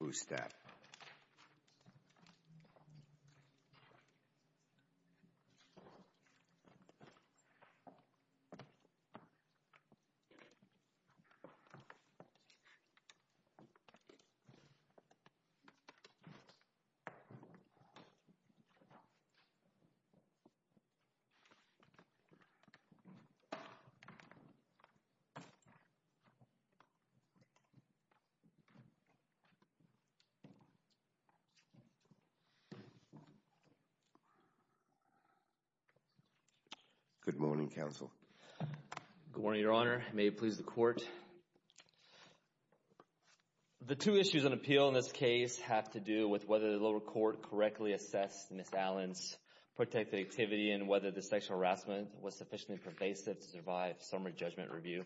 Who's that? Good morning, Your Honor. May it please the Court. The two issues on appeal in this case have to do with whether the lower court correctly assessed Ms. Allen's protected activity and whether the sexual harassment was sufficiently pervasive to survive summary judgment review.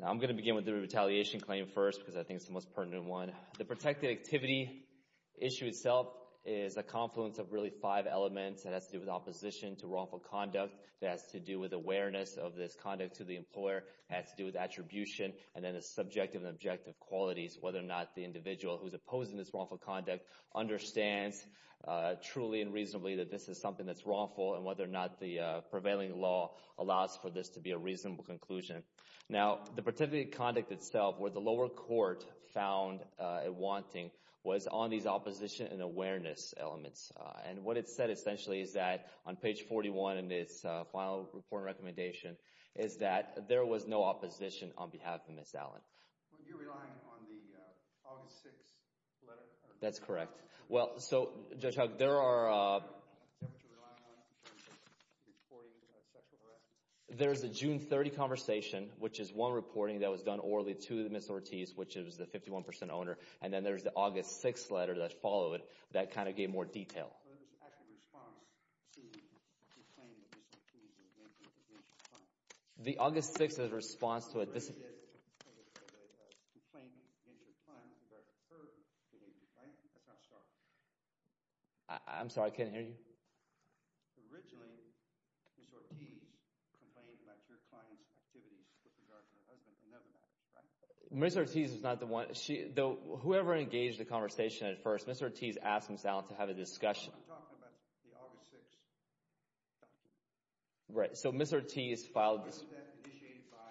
Now I'm going to begin with the retaliation claim first because I think it's the most pertinent one. Now, the protected activity issue itself is a confluence of really five elements. It has to do with opposition to wrongful conduct, it has to do with awareness of this conduct to the employer, it has to do with attribution, and then the subjective and objective qualities, whether or not the individual who's opposing this wrongful conduct understands truly and reasonably that this is something that's wrongful and whether or not the prevailing law allows for this to be a reasonable conclusion. Now, the protected conduct itself where the lower court found it wanting was on these opposition and awareness elements. And what it said essentially is that on page 41 in this final report and recommendation is that there was no opposition on behalf of Ms. Allen. But you're relying on the August 6th letter? That's correct. Well, so, Judge Hugg, there are... Is that what you're relying on in terms of reporting sexual harassment? There's a June 30 conversation, which is one reporting that was done orally to Ms. Ortiz, which is the 51% owner, and then there's the August 6th letter that followed that kind of gave more detail. So there's an actual response to the complaint of Ms. Ortiz against your client? The August 6th is a response to a... There is a complaint against your client, but her behavior, right? That's how it started. I'm sorry, I can't hear you. Originally, Ms. Ortiz complained about your client's activities with regard to her husband, and never met him, right? Ms. Ortiz was not the one. Whoever engaged the conversation at first, Ms. Ortiz asked Ms. Allen to have a discussion. I'm talking about the August 6th document. Right, so Ms. Ortiz filed... Was that initiated by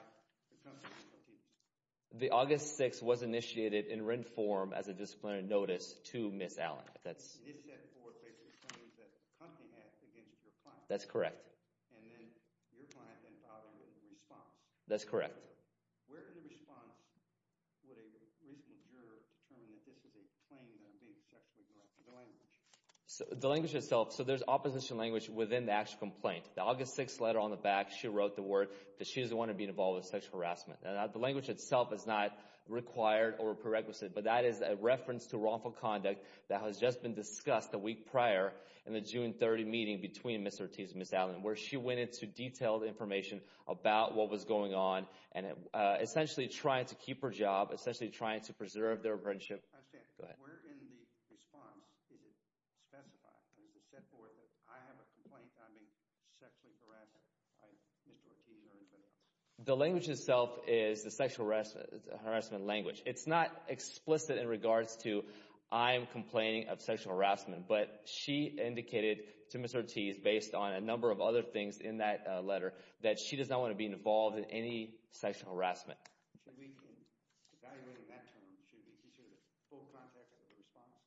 the company, Ms. Ortiz? The August 6th was initiated in written form as a disciplinary notice to Ms. Allen. It is set forth based on claims that the company had against your client. That's correct. And then your client then filed a written response. That's correct. Where in the response would a reasonable juror determine that this is a claim that I'm being sexually harassed? The language. The language itself. So there's opposition language within the actual complaint. The August 6th letter on the back, she wrote the word that she's the one who's been involved in sexual harassment. The language itself is not required or prerequisite, but that is a reference to wrongful conduct that has just been discussed a week prior in the June 30th meeting between Ms. Ortiz and Ms. Allen, where she went into detailed information about what was going on and essentially trying to keep her job, essentially trying to preserve their friendship. I understand. Go ahead. Where in the response is it specified? Is it set forth that I have a complaint that I'm being sexually harassed by Mr. Ortiz or anybody else? The language itself is the sexual harassment language. It's not explicit in regards to I'm complaining of sexual harassment, but she indicated to Mr. Ortiz, based on a number of other things in that letter, that she does not want to be involved in any sexual harassment. Should we be evaluating that term? Should it be considered a full contact response?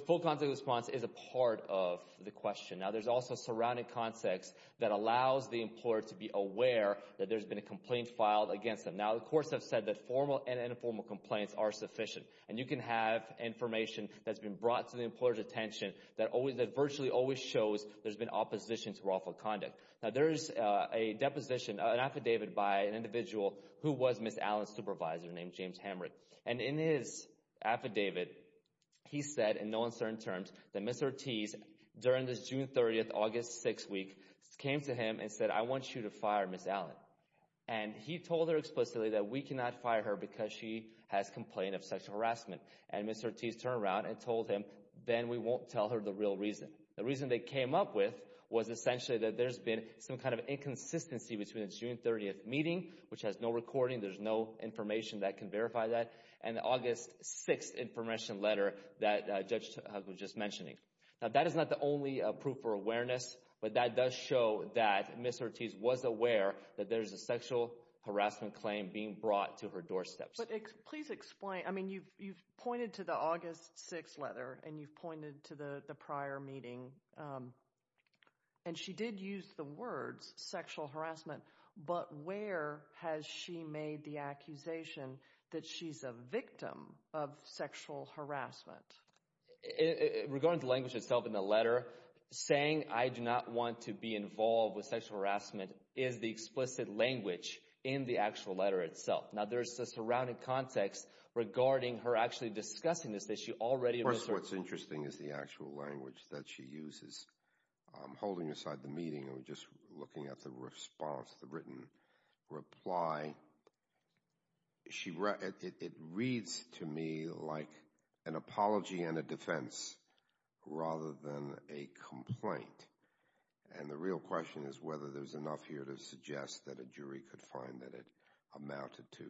The full contact response is a part of the question. Now, there's also surrounding context that allows the employer to be aware that there's been a complaint filed against them. Now, the courts have said that formal and informal complaints are sufficient. And you can have information that's been brought to the employer's attention that virtually always shows there's been opposition to wrongful conduct. Now, there's a deposition, an affidavit by an individual who was Ms. Allen's supervisor named James Hamrick. And in his affidavit, he said in no uncertain terms that Ms. Ortiz, during this June 30th, August 6th week, came to him and said, I want you to fire Ms. Allen. And he told her explicitly that we cannot fire her because she has complained of sexual harassment. And Ms. Ortiz turned around and told him, then we won't tell her the real reason. The reason they came up with was essentially that there's been some kind of inconsistency between the June 30th meeting, which has no recording, there's no information that can verify that, and the August 6th information letter that Judge Huggins was just mentioning. Now, that is not the only proof for awareness, but that does show that Ms. Ortiz was aware that there's a sexual harassment claim being brought to her doorsteps. But please explain, I mean, you've pointed to the August 6th letter, and you've pointed to the prior meeting, and she did use the words sexual harassment, but where has she made the accusation that she's a victim of sexual harassment? Regarding the language itself in the letter, saying I do not want to be involved with sexual harassment, there's no explicit language in the actual letter itself. Now, there's a surrounding context regarding her actually discussing this, that she already was. First, what's interesting is the actual language that she uses. Holding aside the meeting, and we're just looking at the response, the written reply, it reads to me like an apology and a defense, rather than a complaint. And the real question is whether there's enough here to suggest that a jury could find that it amounted to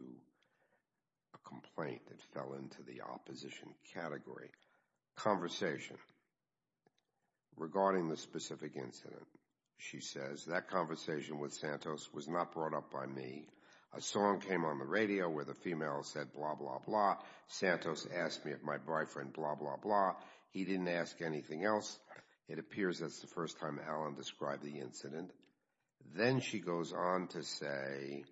a complaint that fell into the opposition category. Conversation. Regarding the specific incident, she says, that conversation with Santos was not brought up by me. A song came on the radio where the female said blah, blah, blah. Santos asked me if my boyfriend blah, blah, blah. He didn't ask anything else. It appears that's the first time Alan described the incident. Then she goes on to say,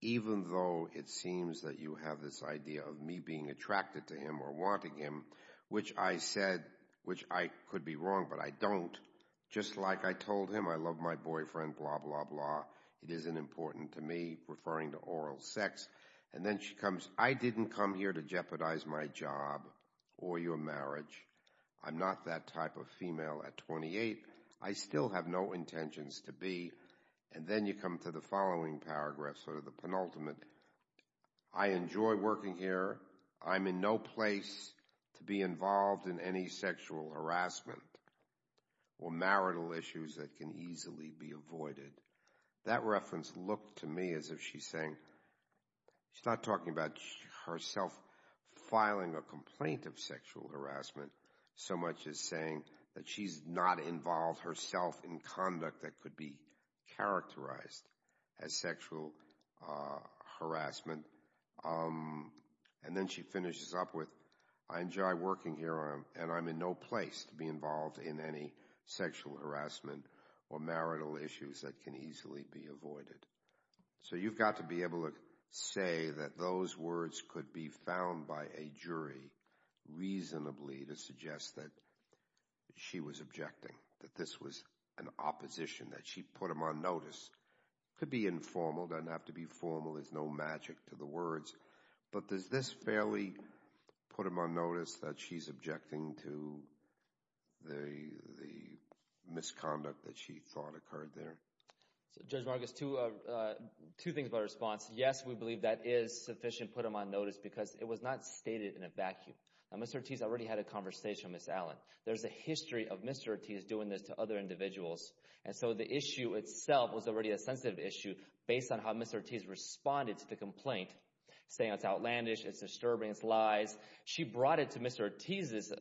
even though it seems that you have this idea of me being attracted to him or wanting him, which I said, which I could be wrong, but I don't, just like I told him I love my boyfriend, blah, blah, blah. It isn't important to me, referring to oral sex. And then she comes, I didn't come here to jeopardize my job or your marriage. I'm not that type of female at 28. I still have no intentions to be. And then you come to the following paragraph, sort of the penultimate. I enjoy working here. I'm in no place to be involved in any sexual harassment or marital issues that can easily be avoided. That reference looked to me as if she's saying, she's not talking about herself filing a complaint of sexual harassment so much as saying that she's not involved herself in conduct that could be characterized as sexual harassment. And then she finishes up with, I enjoy working here and I'm in no place to be involved in any sexual harassment or marital issues that can easily be avoided. So you've got to be able to say that those words could be found by a jury reasonably to suggest that she was objecting, that this was an opposition, that she put him on notice. It could be informal. It doesn't have to be formal. There's no magic to the words. But does this fairly put him on notice that she's objecting to the misconduct that she thought occurred there? Judge Marcus, two things about her response. Yes, we believe that is sufficient to put him on notice because it was not stated in a vacuum. Mr. Ortiz already had a conversation with Ms. Allen. There's a history of Mr. Ortiz doing this to other individuals. And so the issue itself was already a sensitive issue based on how Mr. Ortiz responded to the complaint, saying it's outlandish, it's disturbing, it's lies. She brought it to Mr. Ortiz's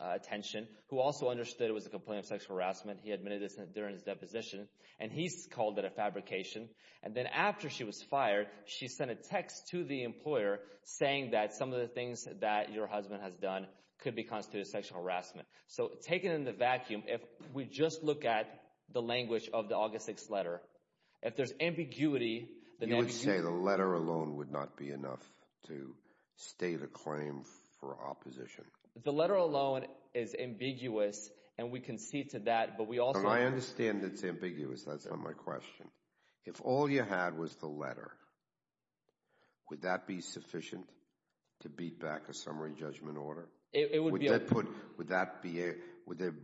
attention, who also understood it was a complaint of sexual harassment. He admitted this during his deposition. And he's called it a fabrication. And then after she was fired, she sent a text to the employer saying that some of the things that your husband has done could be constituted sexual harassment. So taken in the vacuum, if we just look at the language of the August 6th letter, if there's ambiguity... You would say the letter alone would not be enough to state a claim for opposition. The letter alone is ambiguous, and we can see to that, but we also... I understand it's ambiguous, that's not my question. If all you had was the letter, would that be sufficient to beat back a summary judgment order? It would be...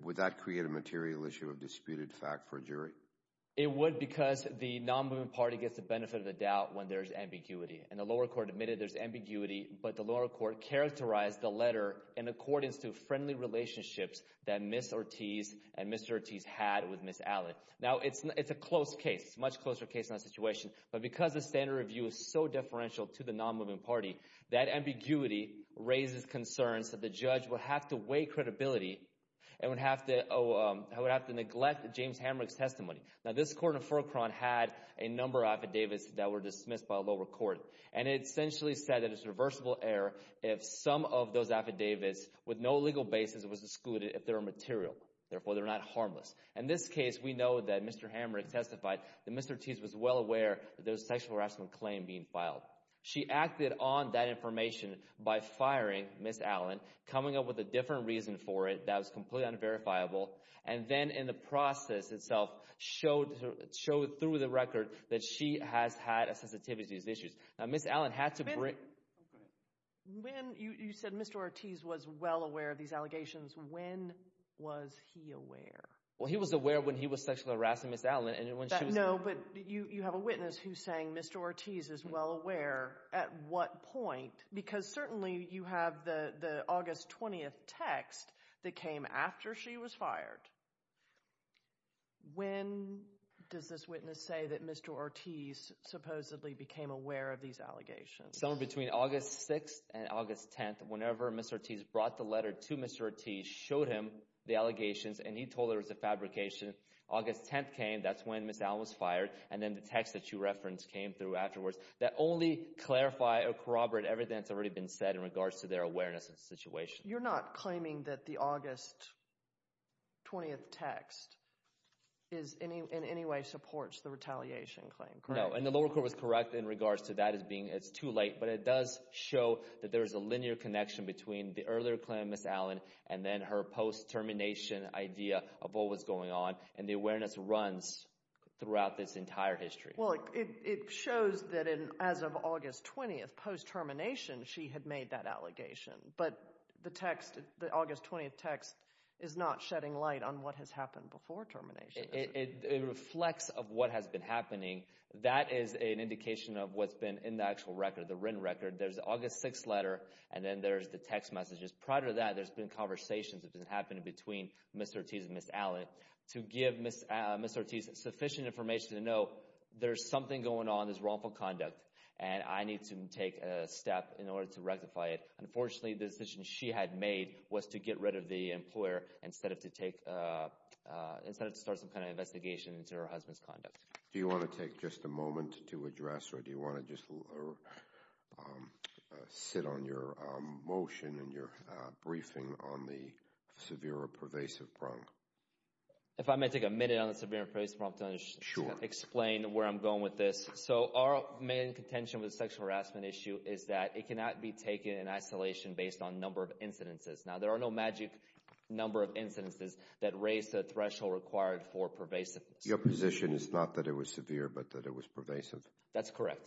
Would that create a material issue of disputed fact for a jury? It would because the non-movement party gets the benefit of the doubt when there's ambiguity. And the lower court admitted there's ambiguity, but the lower court characterized the letter in accordance to friendly relationships that Ms. Ortiz and Mr. Ortiz had with Ms. Allen. Now, it's a close case, much closer case in that situation. But because the standard review is so differential to the non-movement party, that ambiguity raises concerns that the judge would have to weigh credibility and would have to neglect James Hamrick's testimony. Now, this court in Fulcron had a number of affidavits that were dismissed by the lower court, and it essentially said that it's a reversible error if some of those affidavits with no legal basis was excluded if they were material. Therefore, they're not harmless. In this case, we know that Mr. Hamrick testified that Mr. Ortiz was well aware that there was a sexual harassment claim being filed. She acted on that information by firing Ms. Allen, coming up with a different reason for it that was completely unverifiable, and then in the process itself showed through the record that she has had a sensitivity to these issues. Ms. Allen had to bring... When... Oh, go ahead. When... You said Mr. Ortiz was well aware of these allegations. When was he aware? Well, he was aware when he was sexually harassing Ms. Allen and when she was... No, but you have a witness who's saying Mr. Ortiz is well aware. At what point? At what point? Because certainly you have the August 20th text that came after she was fired. When does this witness say that Mr. Ortiz supposedly became aware of these allegations? Somewhere between August 6th and August 10th, whenever Mr. Ortiz brought the letter to Mr. Ortiz, showed him the allegations, and he told her it was a fabrication, August 10th came, that's when Ms. Allen was fired, and then the text that you referenced came through in regards to their awareness of the situation. You're not claiming that the August 20th text in any way supports the retaliation claim, correct? No, and the lower court was correct in regards to that as being too late, but it does show that there is a linear connection between the earlier claim of Ms. Allen and then her post-termination idea of what was going on, and the awareness runs throughout this entire history. Well, it shows that as of August 20th, post-termination, she had made that allegation, but the text, the August 20th text, is not shedding light on what has happened before termination. It reflects of what has been happening. That is an indication of what's been in the actual record, the written record. There's the August 6th letter, and then there's the text messages. Prior to that, there's been conversations that have been happening between Ms. Ortiz and Ms. Allen to give Ms. Ortiz sufficient information to know there's something going on, there's wrongful conduct, and I need to take a step in order to rectify it. Unfortunately, the decision she had made was to get rid of the employer instead of to start some kind of investigation into her husband's conduct. Do you want to take just a moment to address, or do you want to just sit on your motion and your briefing on the severe or pervasive prong? If I may take a minute on the severe or pervasive prong to explain where I'm going with this. So, our main contention with the sexual harassment issue is that it cannot be taken in isolation based on number of incidences. Now, there are no magic number of incidences that raise the threshold required for pervasiveness. Your position is not that it was severe, but that it was pervasive? That's correct.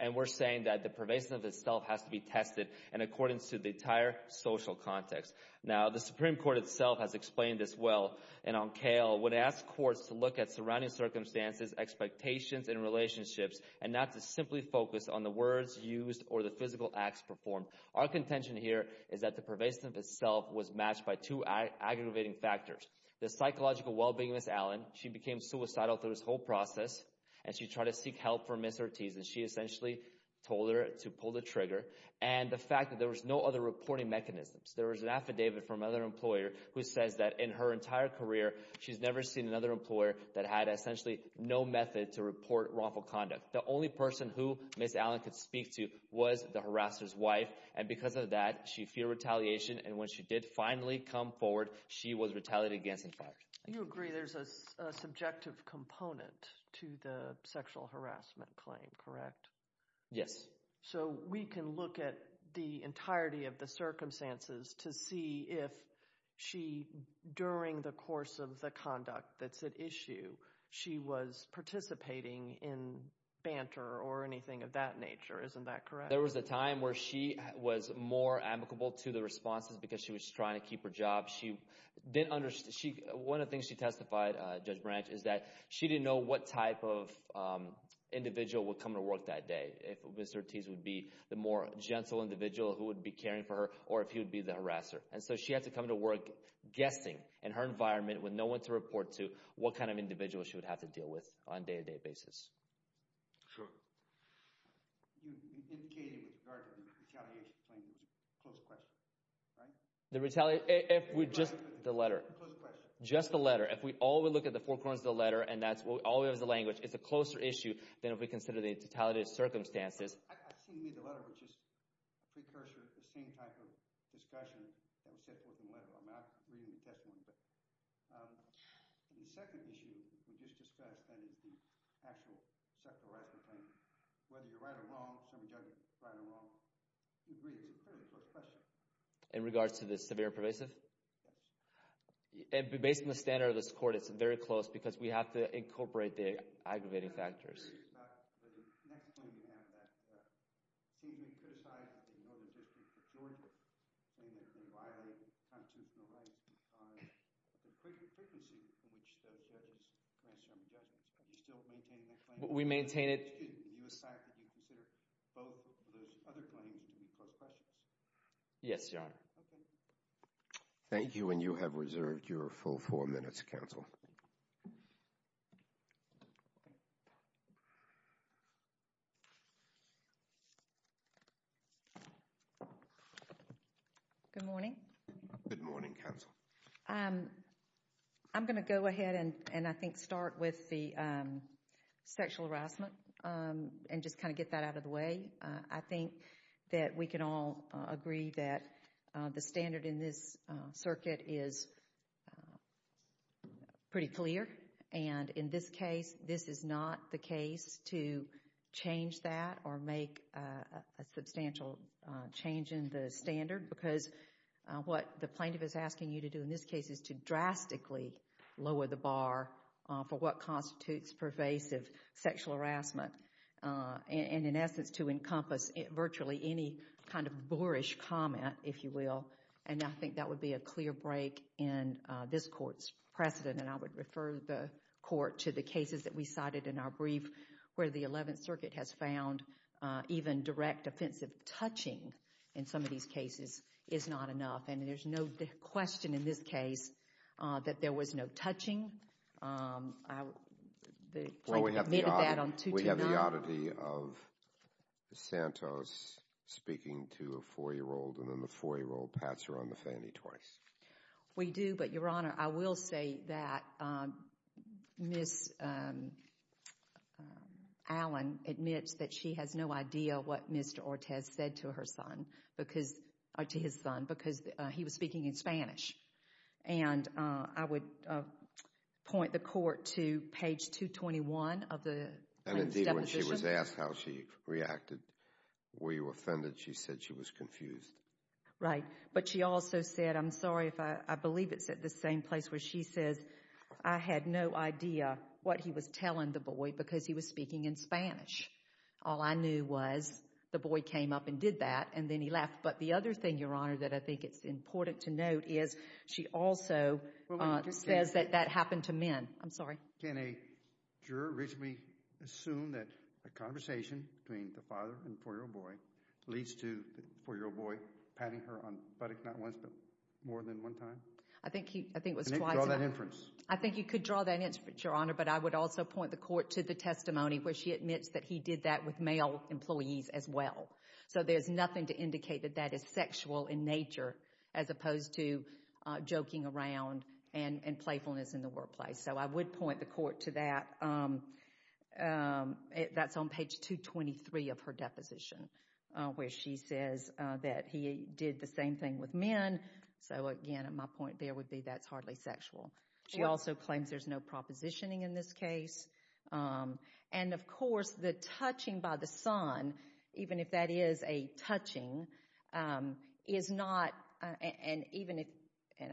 And we're saying that the pervasiveness itself has to be tested in accordance to the entire social context. Now, the Supreme Court itself has explained this well, and on KL, when it asks courts to look at surrounding circumstances, expectations, and relationships, and not to simply focus on the words used or the physical acts performed, our contention here is that the pervasiveness itself was matched by two aggravating factors. The psychological well-being of Ms. Allen, she became suicidal through this whole process, and she tried to seek help from Ms. Ortiz, and she essentially told her to pull the trigger, and the fact that there was no other reporting mechanisms. There was an affidavit from another employer who says that in her entire career, she's never seen another employer that had essentially no method to report wrongful conduct. The only person who Ms. Allen could speak to was the harasser's wife, and because of that, she feared retaliation, and when she did finally come forward, she was retaliated against and fired. You agree there's a subjective component to the sexual harassment claim, correct? Yes. So, we can look at the entirety of the circumstances to see if she, during the course of the conduct that's at issue, she was participating in banter or anything of that nature. Isn't that correct? There was a time where she was more amicable to the responses because she was trying to keep her job. One of the things she testified, Judge Branch, is that she didn't know what type of individual would come to work that day, if Ms. Ortiz would be the more gentle individual who would be caring for her, or if he would be the harasser, and so she had to come to work guessing, in her environment, with no one to report to, what kind of individual she would have to deal with on a day-to-day basis. Sure. You indicated with regard to the retaliation claim, it was a close question, right? Just the letter. Just the letter. If we all look at the four corners of the letter, and that's all we have is the language, it's a closer issue than if we consider the totality of circumstances. I've seen you read the letter, which is a precursor to the same type of discussion that was set forth in the letter. I'm not reading the testimony, but the second issue we just discussed, that is the actual sexual harassment claim. Whether you're right or wrong, some judge is right or wrong, we agree it's a fairly close question. In regards to the severe and pervasive? Yes. Based on the standard of this court, it's very close, because we have to incorporate the aggravating factors. I'm curious about the next claim you have that seems to be criticized in the Northern District of Georgia, saying that they violate constitutional rights on the frequency in which those judges grant certain judgments. Are you still maintaining that claim? We maintain it. And you said that you consider both of those other claims to be close questions? Yes, Your Honor. Okay. Thank you, and you have reserved your full four minutes, counsel. Good morning. Good morning, counsel. I'm going to go ahead and, I think, start with the sexual harassment and just kind of get that out of the way. I think that we can all agree that the standard in this circuit is pretty clear, and in this case, this is not the case to change that or make a substantial change in the standard, because what the plaintiff is asking you to do in this case is to drastically lower the bar for what constitutes pervasive sexual harassment and, in essence, to encompass virtually any kind of boorish comment, if you will, and I think that would be a clear break in this court's precedent, and I would refer the court to the cases that we cited in our brief where the Eleventh Circuit has found even direct offensive touching in some of these cases is not enough, and there's no question in this case that there was no touching. The plaintiff admitted that on 229. Well, we have the oddity of Santos speaking to a four-year-old, and then the four-year-old pats her on the fanny twice. We do, but, Your Honor, I will say that Ms. Allen admits that she has no idea what Mr. Santos said to his son because he was speaking in Spanish, and I would point the court to page 221 of the plaintiff's deposition. And, indeed, when she was asked how she reacted, were you offended, she said she was confused. Right, but she also said, I'm sorry if I believe it's at the same place where she says, I had no idea what he was telling the boy because he was speaking in Spanish. All I knew was the boy came up and did that, and then he left. But the other thing, Your Honor, that I think it's important to note is she also says that that happened to men. I'm sorry. Can a juror reasonably assume that a conversation between the father and the four-year-old boy leads to the four-year-old boy patting her on the buttock not once but more than one time? I think it was twice. Can you draw that inference? I think you could draw that inference, Your Honor, but I would also point the court to the testimony where she admits that he did that with male employees as well. So, there's nothing to indicate that that is sexual in nature as opposed to joking around and playfulness in the workplace. So, I would point the court to that. That's on page 223 of her deposition where she says that he did the same thing with men. So, again, my point there would be that's hardly sexual. She also claims there's no propositioning in this case. And, of course, the touching by the son, even if that is a touching, is not, and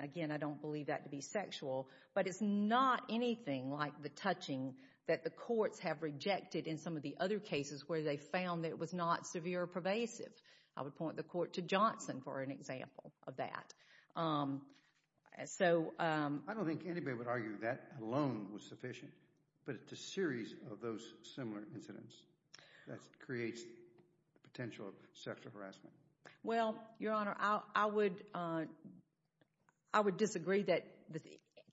again, I don't believe that to be sexual, but it's not anything like the touching that the courts have rejected in some of the other cases where they found that it was not severe or pervasive. I would point the court to Johnson for an example of that. I don't think anybody would argue that alone was sufficient, but it's a series of those similar incidents that creates the potential of sexual harassment. Well, Your Honor, I would disagree that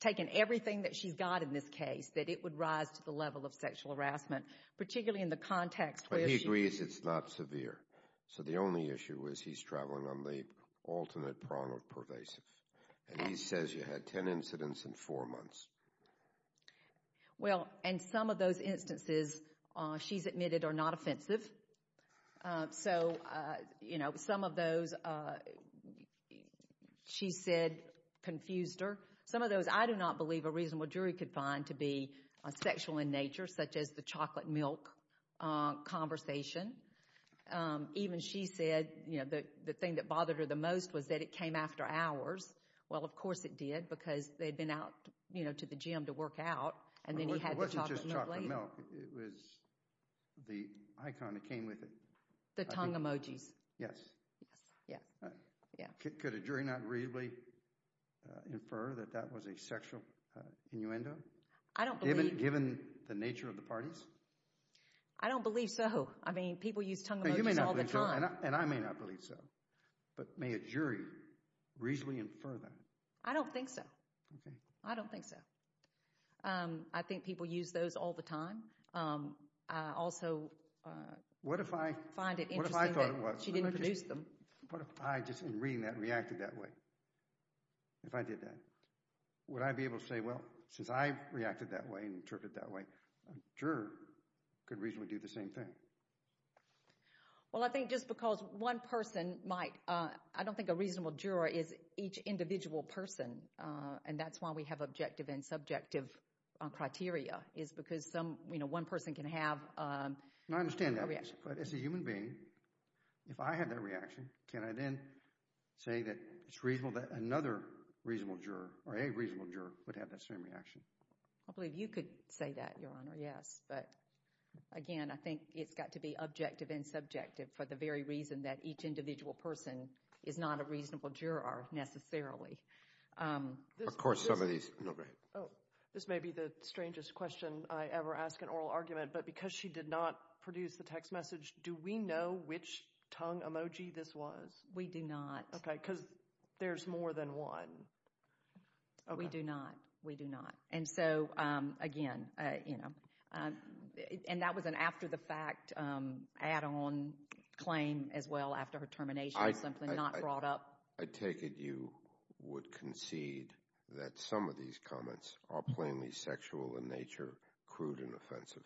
taking everything that she's got in this case, that it would rise to the level of sexual harassment, particularly in the context where she But he agrees it's not severe. So the only issue is he's traveling on the ultimate prong of pervasive. And he says you had ten incidents in four months. Well, and some of those instances, she's admitted, are not offensive. So, you know, some of those she said confused her. Some of those I do not believe a reasonable jury could find to be sexual in nature, such as the chocolate milk conversation. Even she said, you know, the thing that bothered her the most was that it came after hours. Well, of course it did because they'd been out, you know, to the gym to work out. And then he had the chocolate milk later. It wasn't just chocolate milk. It was the icon that came with it. The tongue emojis. Yes. Yes. Could a jury not reasonably infer that that was a sexual innuendo? I don't believe Given the nature of the parties? I don't believe so. I mean, people use tongue emojis all the time. And I may not believe so. But may a jury reasonably infer that? I don't think so. I don't think so. I think people use those all the time. I also find it interesting that she didn't produce them. What if I just, in reading that, reacted that way? If I did that, would I be able to say, well, since I reacted that way and interpreted that way, a juror could reasonably do the same thing? Well, I think just because one person might. I don't think a reasonable juror is each individual person. And that's why we have objective and subjective criteria, is because one person can have a reaction. I understand that. But as a human being, if I have that reaction, can I then say that it's reasonable that another reasonable juror, or a reasonable juror, would have that same reaction? I believe you could say that, Your Honor, yes. But, again, I think it's got to be objective and subjective for the very reason that each individual person is not a reasonable juror necessarily. Of course, some of these. No, go ahead. This may be the strangest question I ever ask an oral argument, but because she did not produce the text message, do we know which tongue emoji this was? We do not. Okay, because there's more than one. We do not. We do not. And so, again, you know. And that was an after-the-fact add-on claim as well after her termination, something not brought up. I take it you would concede that some of these comments are plainly sexual in nature, crude and offensive.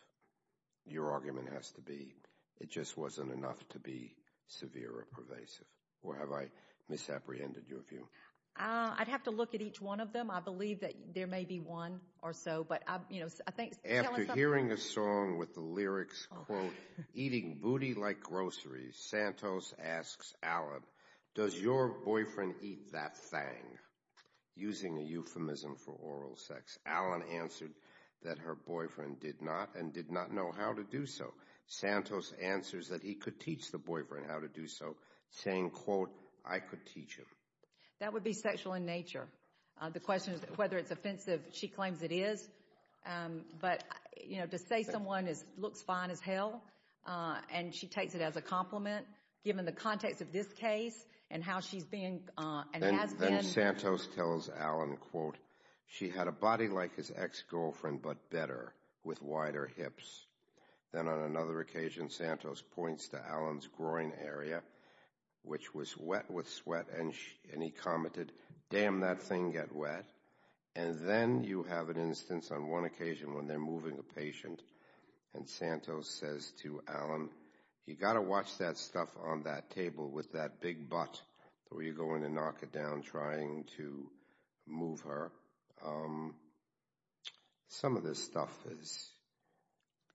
Your argument has to be it just wasn't enough to be severe or pervasive. Or have I misapprehended your view? I'd have to look at each one of them. I believe that there may be one or so. After hearing a song with the lyrics, quote, eating booty like groceries, Santos asks Alan, does your boyfriend eat that thang? Using a euphemism for oral sex, Alan answered that her boyfriend did not and did not know how to do so. Santos answers that he could teach the boyfriend how to do so, saying, quote, I could teach him. That would be sexual in nature. The question is whether it's offensive. She claims it is. But, you know, to say someone looks fine as hell and she takes it as a compliment, given the context of this case and how she's been and has been. Then Santos tells Alan, quote, she had a body like his ex-girlfriend but better, with wider hips. Then on another occasion, Santos points to Alan's groin area, which was wet with sweat, and he commented, damn that thang get wet. And then you have an instance on one occasion when they're moving a patient and Santos says to Alan, you got to watch that stuff on that table with that big butt or you're going to knock it down trying to move her. Some of this stuff is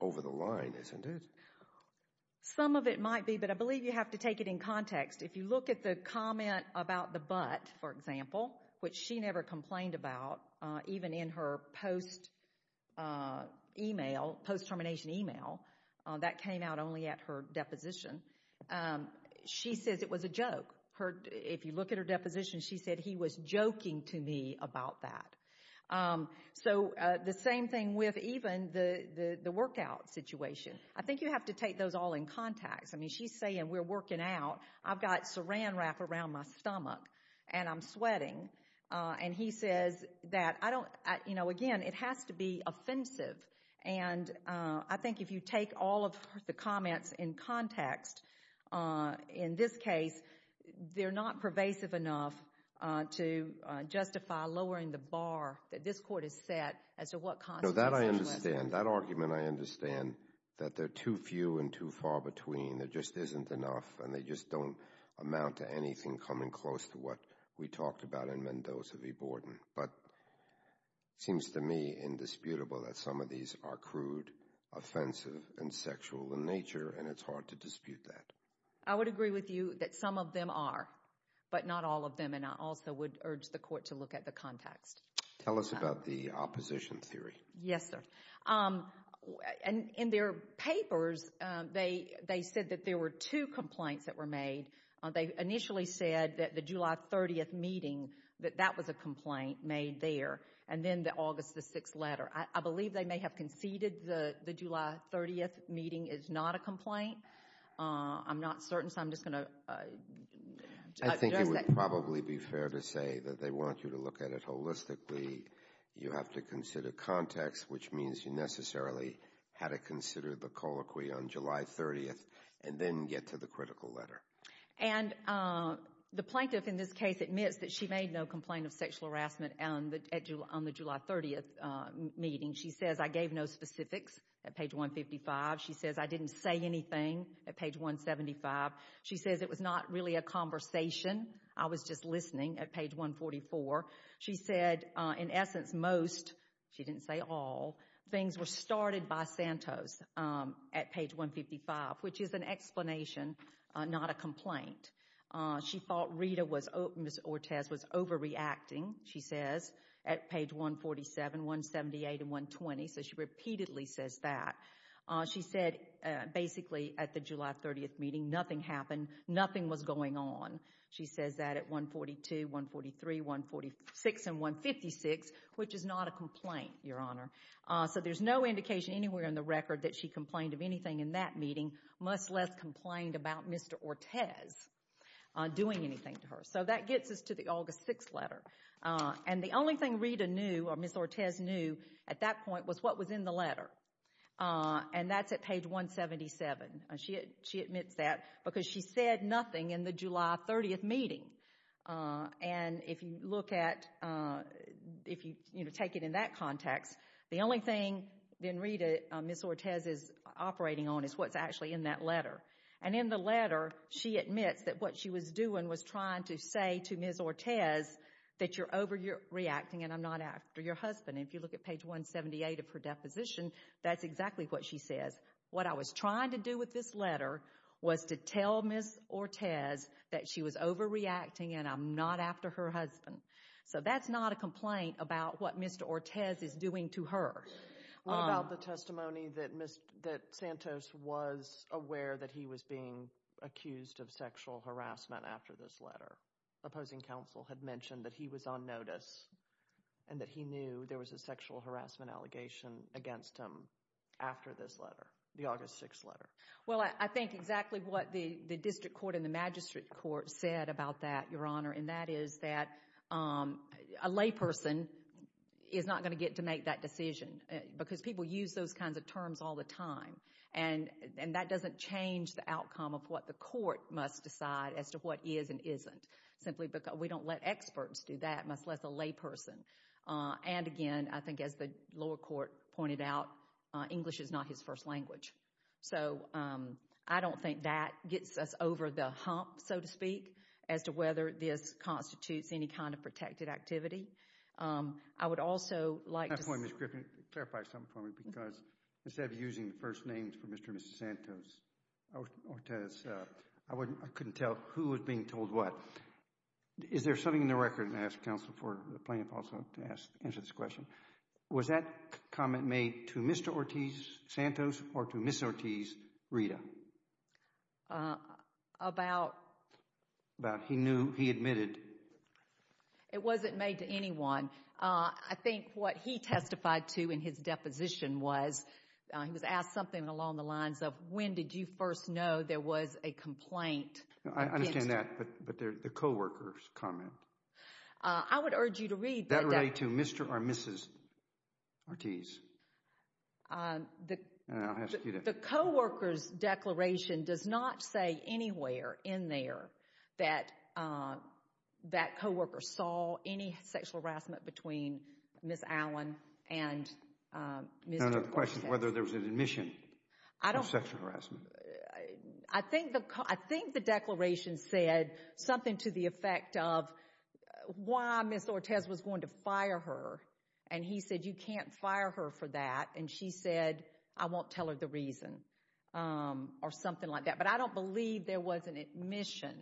over the line, isn't it? Some of it might be, but I believe you have to take it in context. If you look at the comment about the butt, for example, which she never complained about, even in her post-termination email, that came out only at her deposition. She says it was a joke. If you look at her deposition, she said he was joking to me about that. So the same thing with even the workout situation. I think you have to take those all in context. I mean, she's saying we're working out. I've got Saran Wrap around my stomach and I'm sweating. And he says that, again, it has to be offensive. And I think if you take all of the comments in context, in this case, they're not pervasive enough to justify lowering the bar that this court has set as to what constitutes sexual assault. No, that I understand. That argument I understand, that they're too few and too far between. There just isn't enough and they just don't amount to anything coming close to what we talked about in Mendoza v. Borden. But it seems to me indisputable that some of these are crude, offensive, and sexual in nature and it's hard to dispute that. I would agree with you that some of them are, but not all of them. And I also would urge the court to look at the context. Tell us about the opposition theory. Yes, sir. In their papers, they said that there were two complaints that were made. They initially said that the July 30th meeting, that that was a complaint made there, and then the August 6th letter. I believe they may have conceded that the July 30th meeting is not a complaint. I'm not certain, so I'm just going to address that. I think it would probably be fair to say that they want you to look at it holistically. You have to consider context, which means you necessarily had to consider the colloquy on July 30th and then get to the critical letter. And the plaintiff in this case admits that she made no complaint of sexual harassment on the July 30th meeting. She says, I gave no specifics at page 155. She says, I didn't say anything at page 175. She says, it was not really a conversation. I was just listening at page 144. She said, in essence, most, she didn't say all, things were started by Santos at page 155, which is an explanation, not a complaint. She thought Rita was, Ms. Ortez, was overreacting, she says, at page 147, 178, and 120, so she repeatedly says that. She said, basically, at the July 30th meeting, nothing happened, nothing was going on. She says that at 142, 143, 146, and 156, which is not a complaint, Your Honor. So there's no indication anywhere in the record that she complained of anything in that meeting, much less complained about Mr. Ortez doing anything to her. So that gets us to the August 6th letter. And the only thing Rita knew, or Ms. Ortez knew, at that point was what was in the letter. And that's at page 177. She admits that because she said nothing in the July 30th meeting. And if you look at, if you take it in that context, the only thing that Rita, Ms. Ortez, is operating on is what's actually in that letter. And in the letter, she admits that what she was doing was trying to say to Ms. Ortez that you're overreacting and I'm not after your husband. And if you look at page 178 of her deposition, that's exactly what she says. What I was trying to do with this letter was to tell Ms. Ortez that she was overreacting and I'm not after her husband. So that's not a complaint about what Mr. Ortez is doing to her. What about the testimony that Santos was aware that he was being accused of sexual harassment after this letter? Opposing counsel had mentioned that he was on notice and that he knew there was a sexual harassment allegation against him after this letter, the August 6th letter. Well, I think exactly what the district court and the magistrate court said about that, Your Honor, and that is that a layperson is not going to get to make that decision because people use those kinds of terms all the time. And that doesn't change the outcome of what the court must decide as to what is and isn't. Simply because we don't let experts do that, much less a layperson. And again, I think as the lower court pointed out, English is not his first language. So I don't think that gets us over the hump, so to speak, as to whether this constitutes any kind of protected activity. I would also like to say— Can I clarify something for me? Because instead of using the first names for Mr. and Mrs. Santos, Ortiz, I couldn't tell who was being told what. Is there something in the record, and I ask counsel for the plaintiff also to answer this question, was that comment made to Mr. Ortiz Santos or to Mrs. Ortiz Rita? About? About he knew, he admitted. It wasn't made to anyone. I think what he testified to in his deposition was he was asked something along the lines of, when did you first know there was a complaint against— I understand that, but the co-worker's comment. I would urge you to read— That related to Mr. or Mrs. Ortiz. And I'll ask you to— The co-worker's declaration does not say anywhere in there that that co-worker saw any sexual harassment between Ms. Allen and Mr.— No, no, the question is whether there was an admission of sexual harassment. I think the declaration said something to the effect of why Ms. Ortiz was going to fire her, and he said you can't fire her for that, and she said I won't tell her the reason or something like that. But I don't believe there was an admission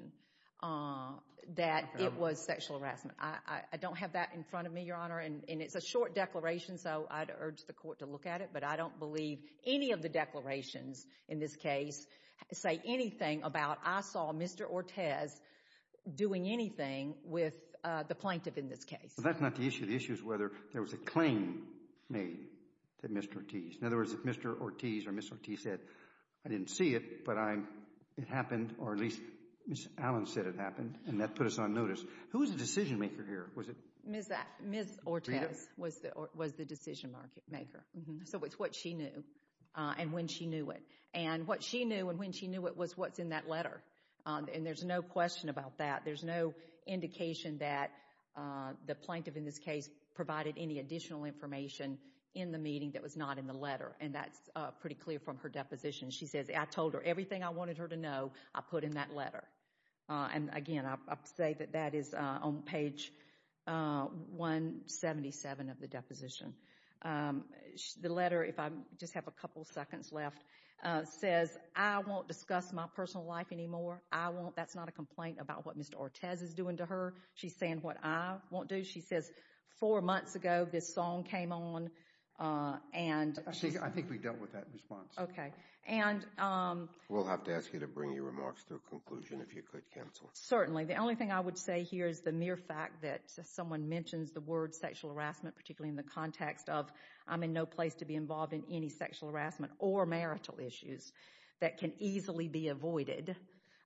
that it was sexual harassment. I don't have that in front of me, Your Honor, and it's a short declaration, so I'd urge the court to look at it, but I don't believe any of the declarations in this case say anything about I saw Mr. Ortiz doing anything with the plaintiff in this case. That's not the issue. The issue is whether there was a claim made to Mr. Ortiz. In other words, if Mr. Ortiz or Mrs. Ortiz said, I didn't see it, but it happened, or at least Ms. Allen said it happened, and that put us on notice. Who was the decision-maker here? Ms. Ortiz was the decision-maker, so it's what she knew and when she knew it. And what she knew and when she knew it was what's in that letter, and there's no question about that. There's no indication that the plaintiff in this case provided any additional information in the meeting that was not in the letter, and that's pretty clear from her deposition. She says, I told her everything I wanted her to know, I put in that letter. And, again, I'll say that that is on page 177 of the deposition. The letter, if I just have a couple seconds left, says, I won't discuss my personal life anymore. I won't. That's not a complaint about what Mr. Ortiz is doing to her. She's saying what I won't do. She says, four months ago this song came on. I think we dealt with that response. Okay. We'll have to ask you to bring your remarks to a conclusion if you could, counsel. Certainly. The only thing I would say here is the mere fact that someone mentions the word sexual harassment, particularly in the context of I'm in no place to be involved in any sexual harassment or marital issues that can easily be avoided,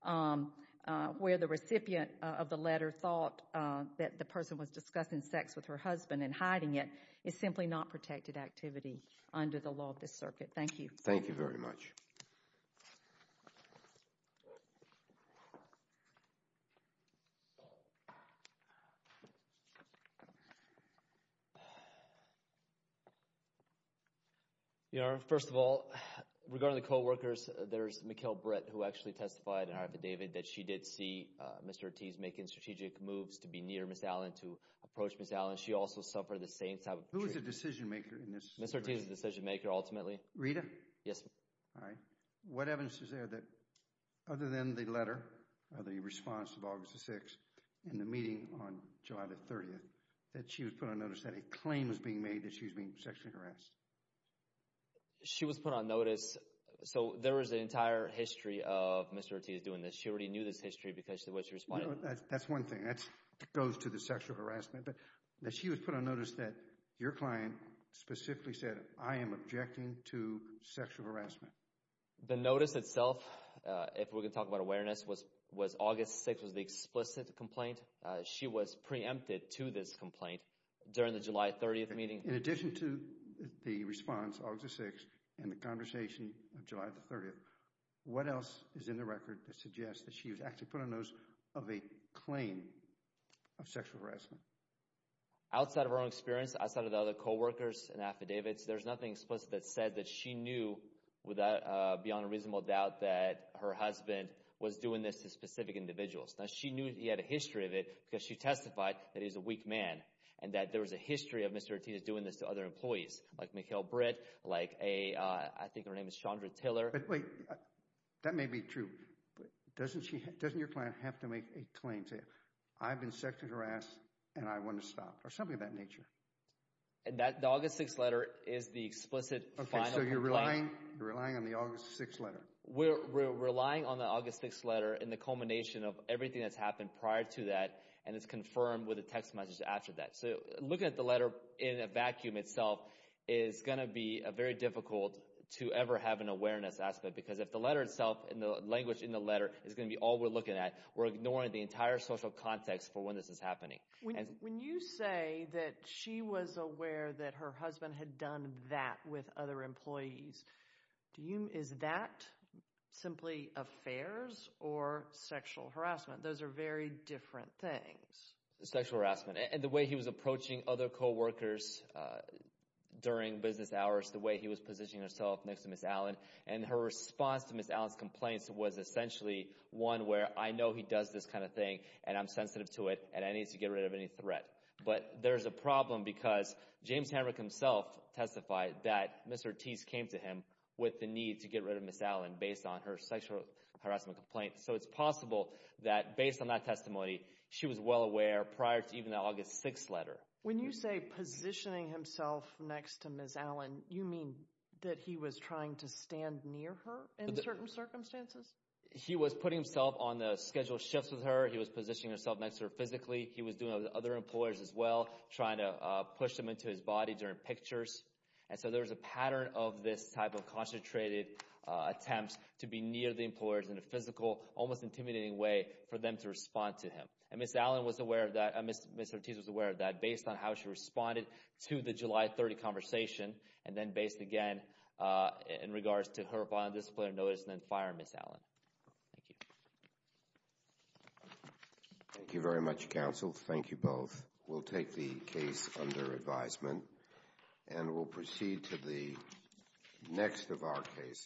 where the recipient of the letter thought that the person was discussing sex with her husband and hiding it is simply not protected activity under the law of this circuit. Thank you. Thank you very much. Thank you. First of all, regarding the co-workers, there's Mikkel Britt who actually testified in her affidavit that she did see Mr. Ortiz making strategic moves to be near Ms. Allen, to approach Ms. Allen. She also suffered the same type of treatment. Who is the decision maker in this? Mr. Ortiz is the decision maker ultimately. Rita? Yes, sir. All right. What evidence is there that other than the letter or the response of August the 6th in the meeting on July the 30th that she was put on notice that a claim was being made that she was being sexually harassed? She was put on notice. So there was an entire history of Mr. Ortiz doing this. She already knew this history because of the way she responded. That's one thing. That goes to the sexual harassment. But she was put on notice that your client specifically said, I am objecting to sexual harassment. The notice itself, if we're going to talk about awareness, was August 6th was the explicit complaint. She was preempted to this complaint during the July 30th meeting. In addition to the response, August the 6th, and the conversation of July the 30th, what else is in the record that suggests that she was actually put on notice of a claim of sexual harassment? Outside of our own experience, outside of the other coworkers and affidavits, there's nothing explicit that said that she knew beyond a reasonable doubt that her husband was doing this to specific individuals. Now, she knew he had a history of it because she testified that he was a weak man and that there was a history of Mr. Ortiz doing this to other employees like Mikhail Britt, like a – I think her name is Chandra Tiller. But wait, that may be true. Doesn't your client have to make a claim, say, I've been sexually harassed and I want to stop, or something of that nature? The August 6th letter is the explicit final complaint. Okay, so you're relying on the August 6th letter. We're relying on the August 6th letter in the culmination of everything that's happened prior to that, and it's confirmed with a text message after that. So looking at the letter in a vacuum itself is going to be very difficult to ever have an awareness aspect because if the letter itself and the language in the letter is going to be all we're looking at, we're ignoring the entire social context for when this is happening. When you say that she was aware that her husband had done that with other employees, is that simply affairs or sexual harassment? Those are very different things. Sexual harassment. And the way he was approaching other coworkers during business hours, the way he was positioning himself next to Ms. Allen, and her response to Ms. Allen's complaints was essentially one where I know he does this kind of thing and I'm sensitive to it and I need to get rid of any threat. But there's a problem because James Hancock himself testified that Ms. Ortiz came to him with the need to get rid of Ms. Allen based on her sexual harassment complaint. So it's possible that based on that testimony, she was well aware prior to even the August 6th letter. When you say positioning himself next to Ms. Allen, you mean that he was trying to stand near her in certain circumstances? He was putting himself on the scheduled shifts with her. He was positioning himself next to her physically. He was doing it with other employers as well, trying to push them into his body during pictures. And so there's a pattern of this type of concentrated attempts to be near the employers in a physical, almost intimidating way for them to respond to him. And Ms. Allen was aware of that. Ms. Ortiz was aware of that based on how she responded to the July 30th conversation and then based again in regards to her bond disciplinary notice and then firing Ms. Allen. Thank you. Thank you very much, counsel. Thank you both. We'll take the case under advisement. And we'll proceed to the next of our cases.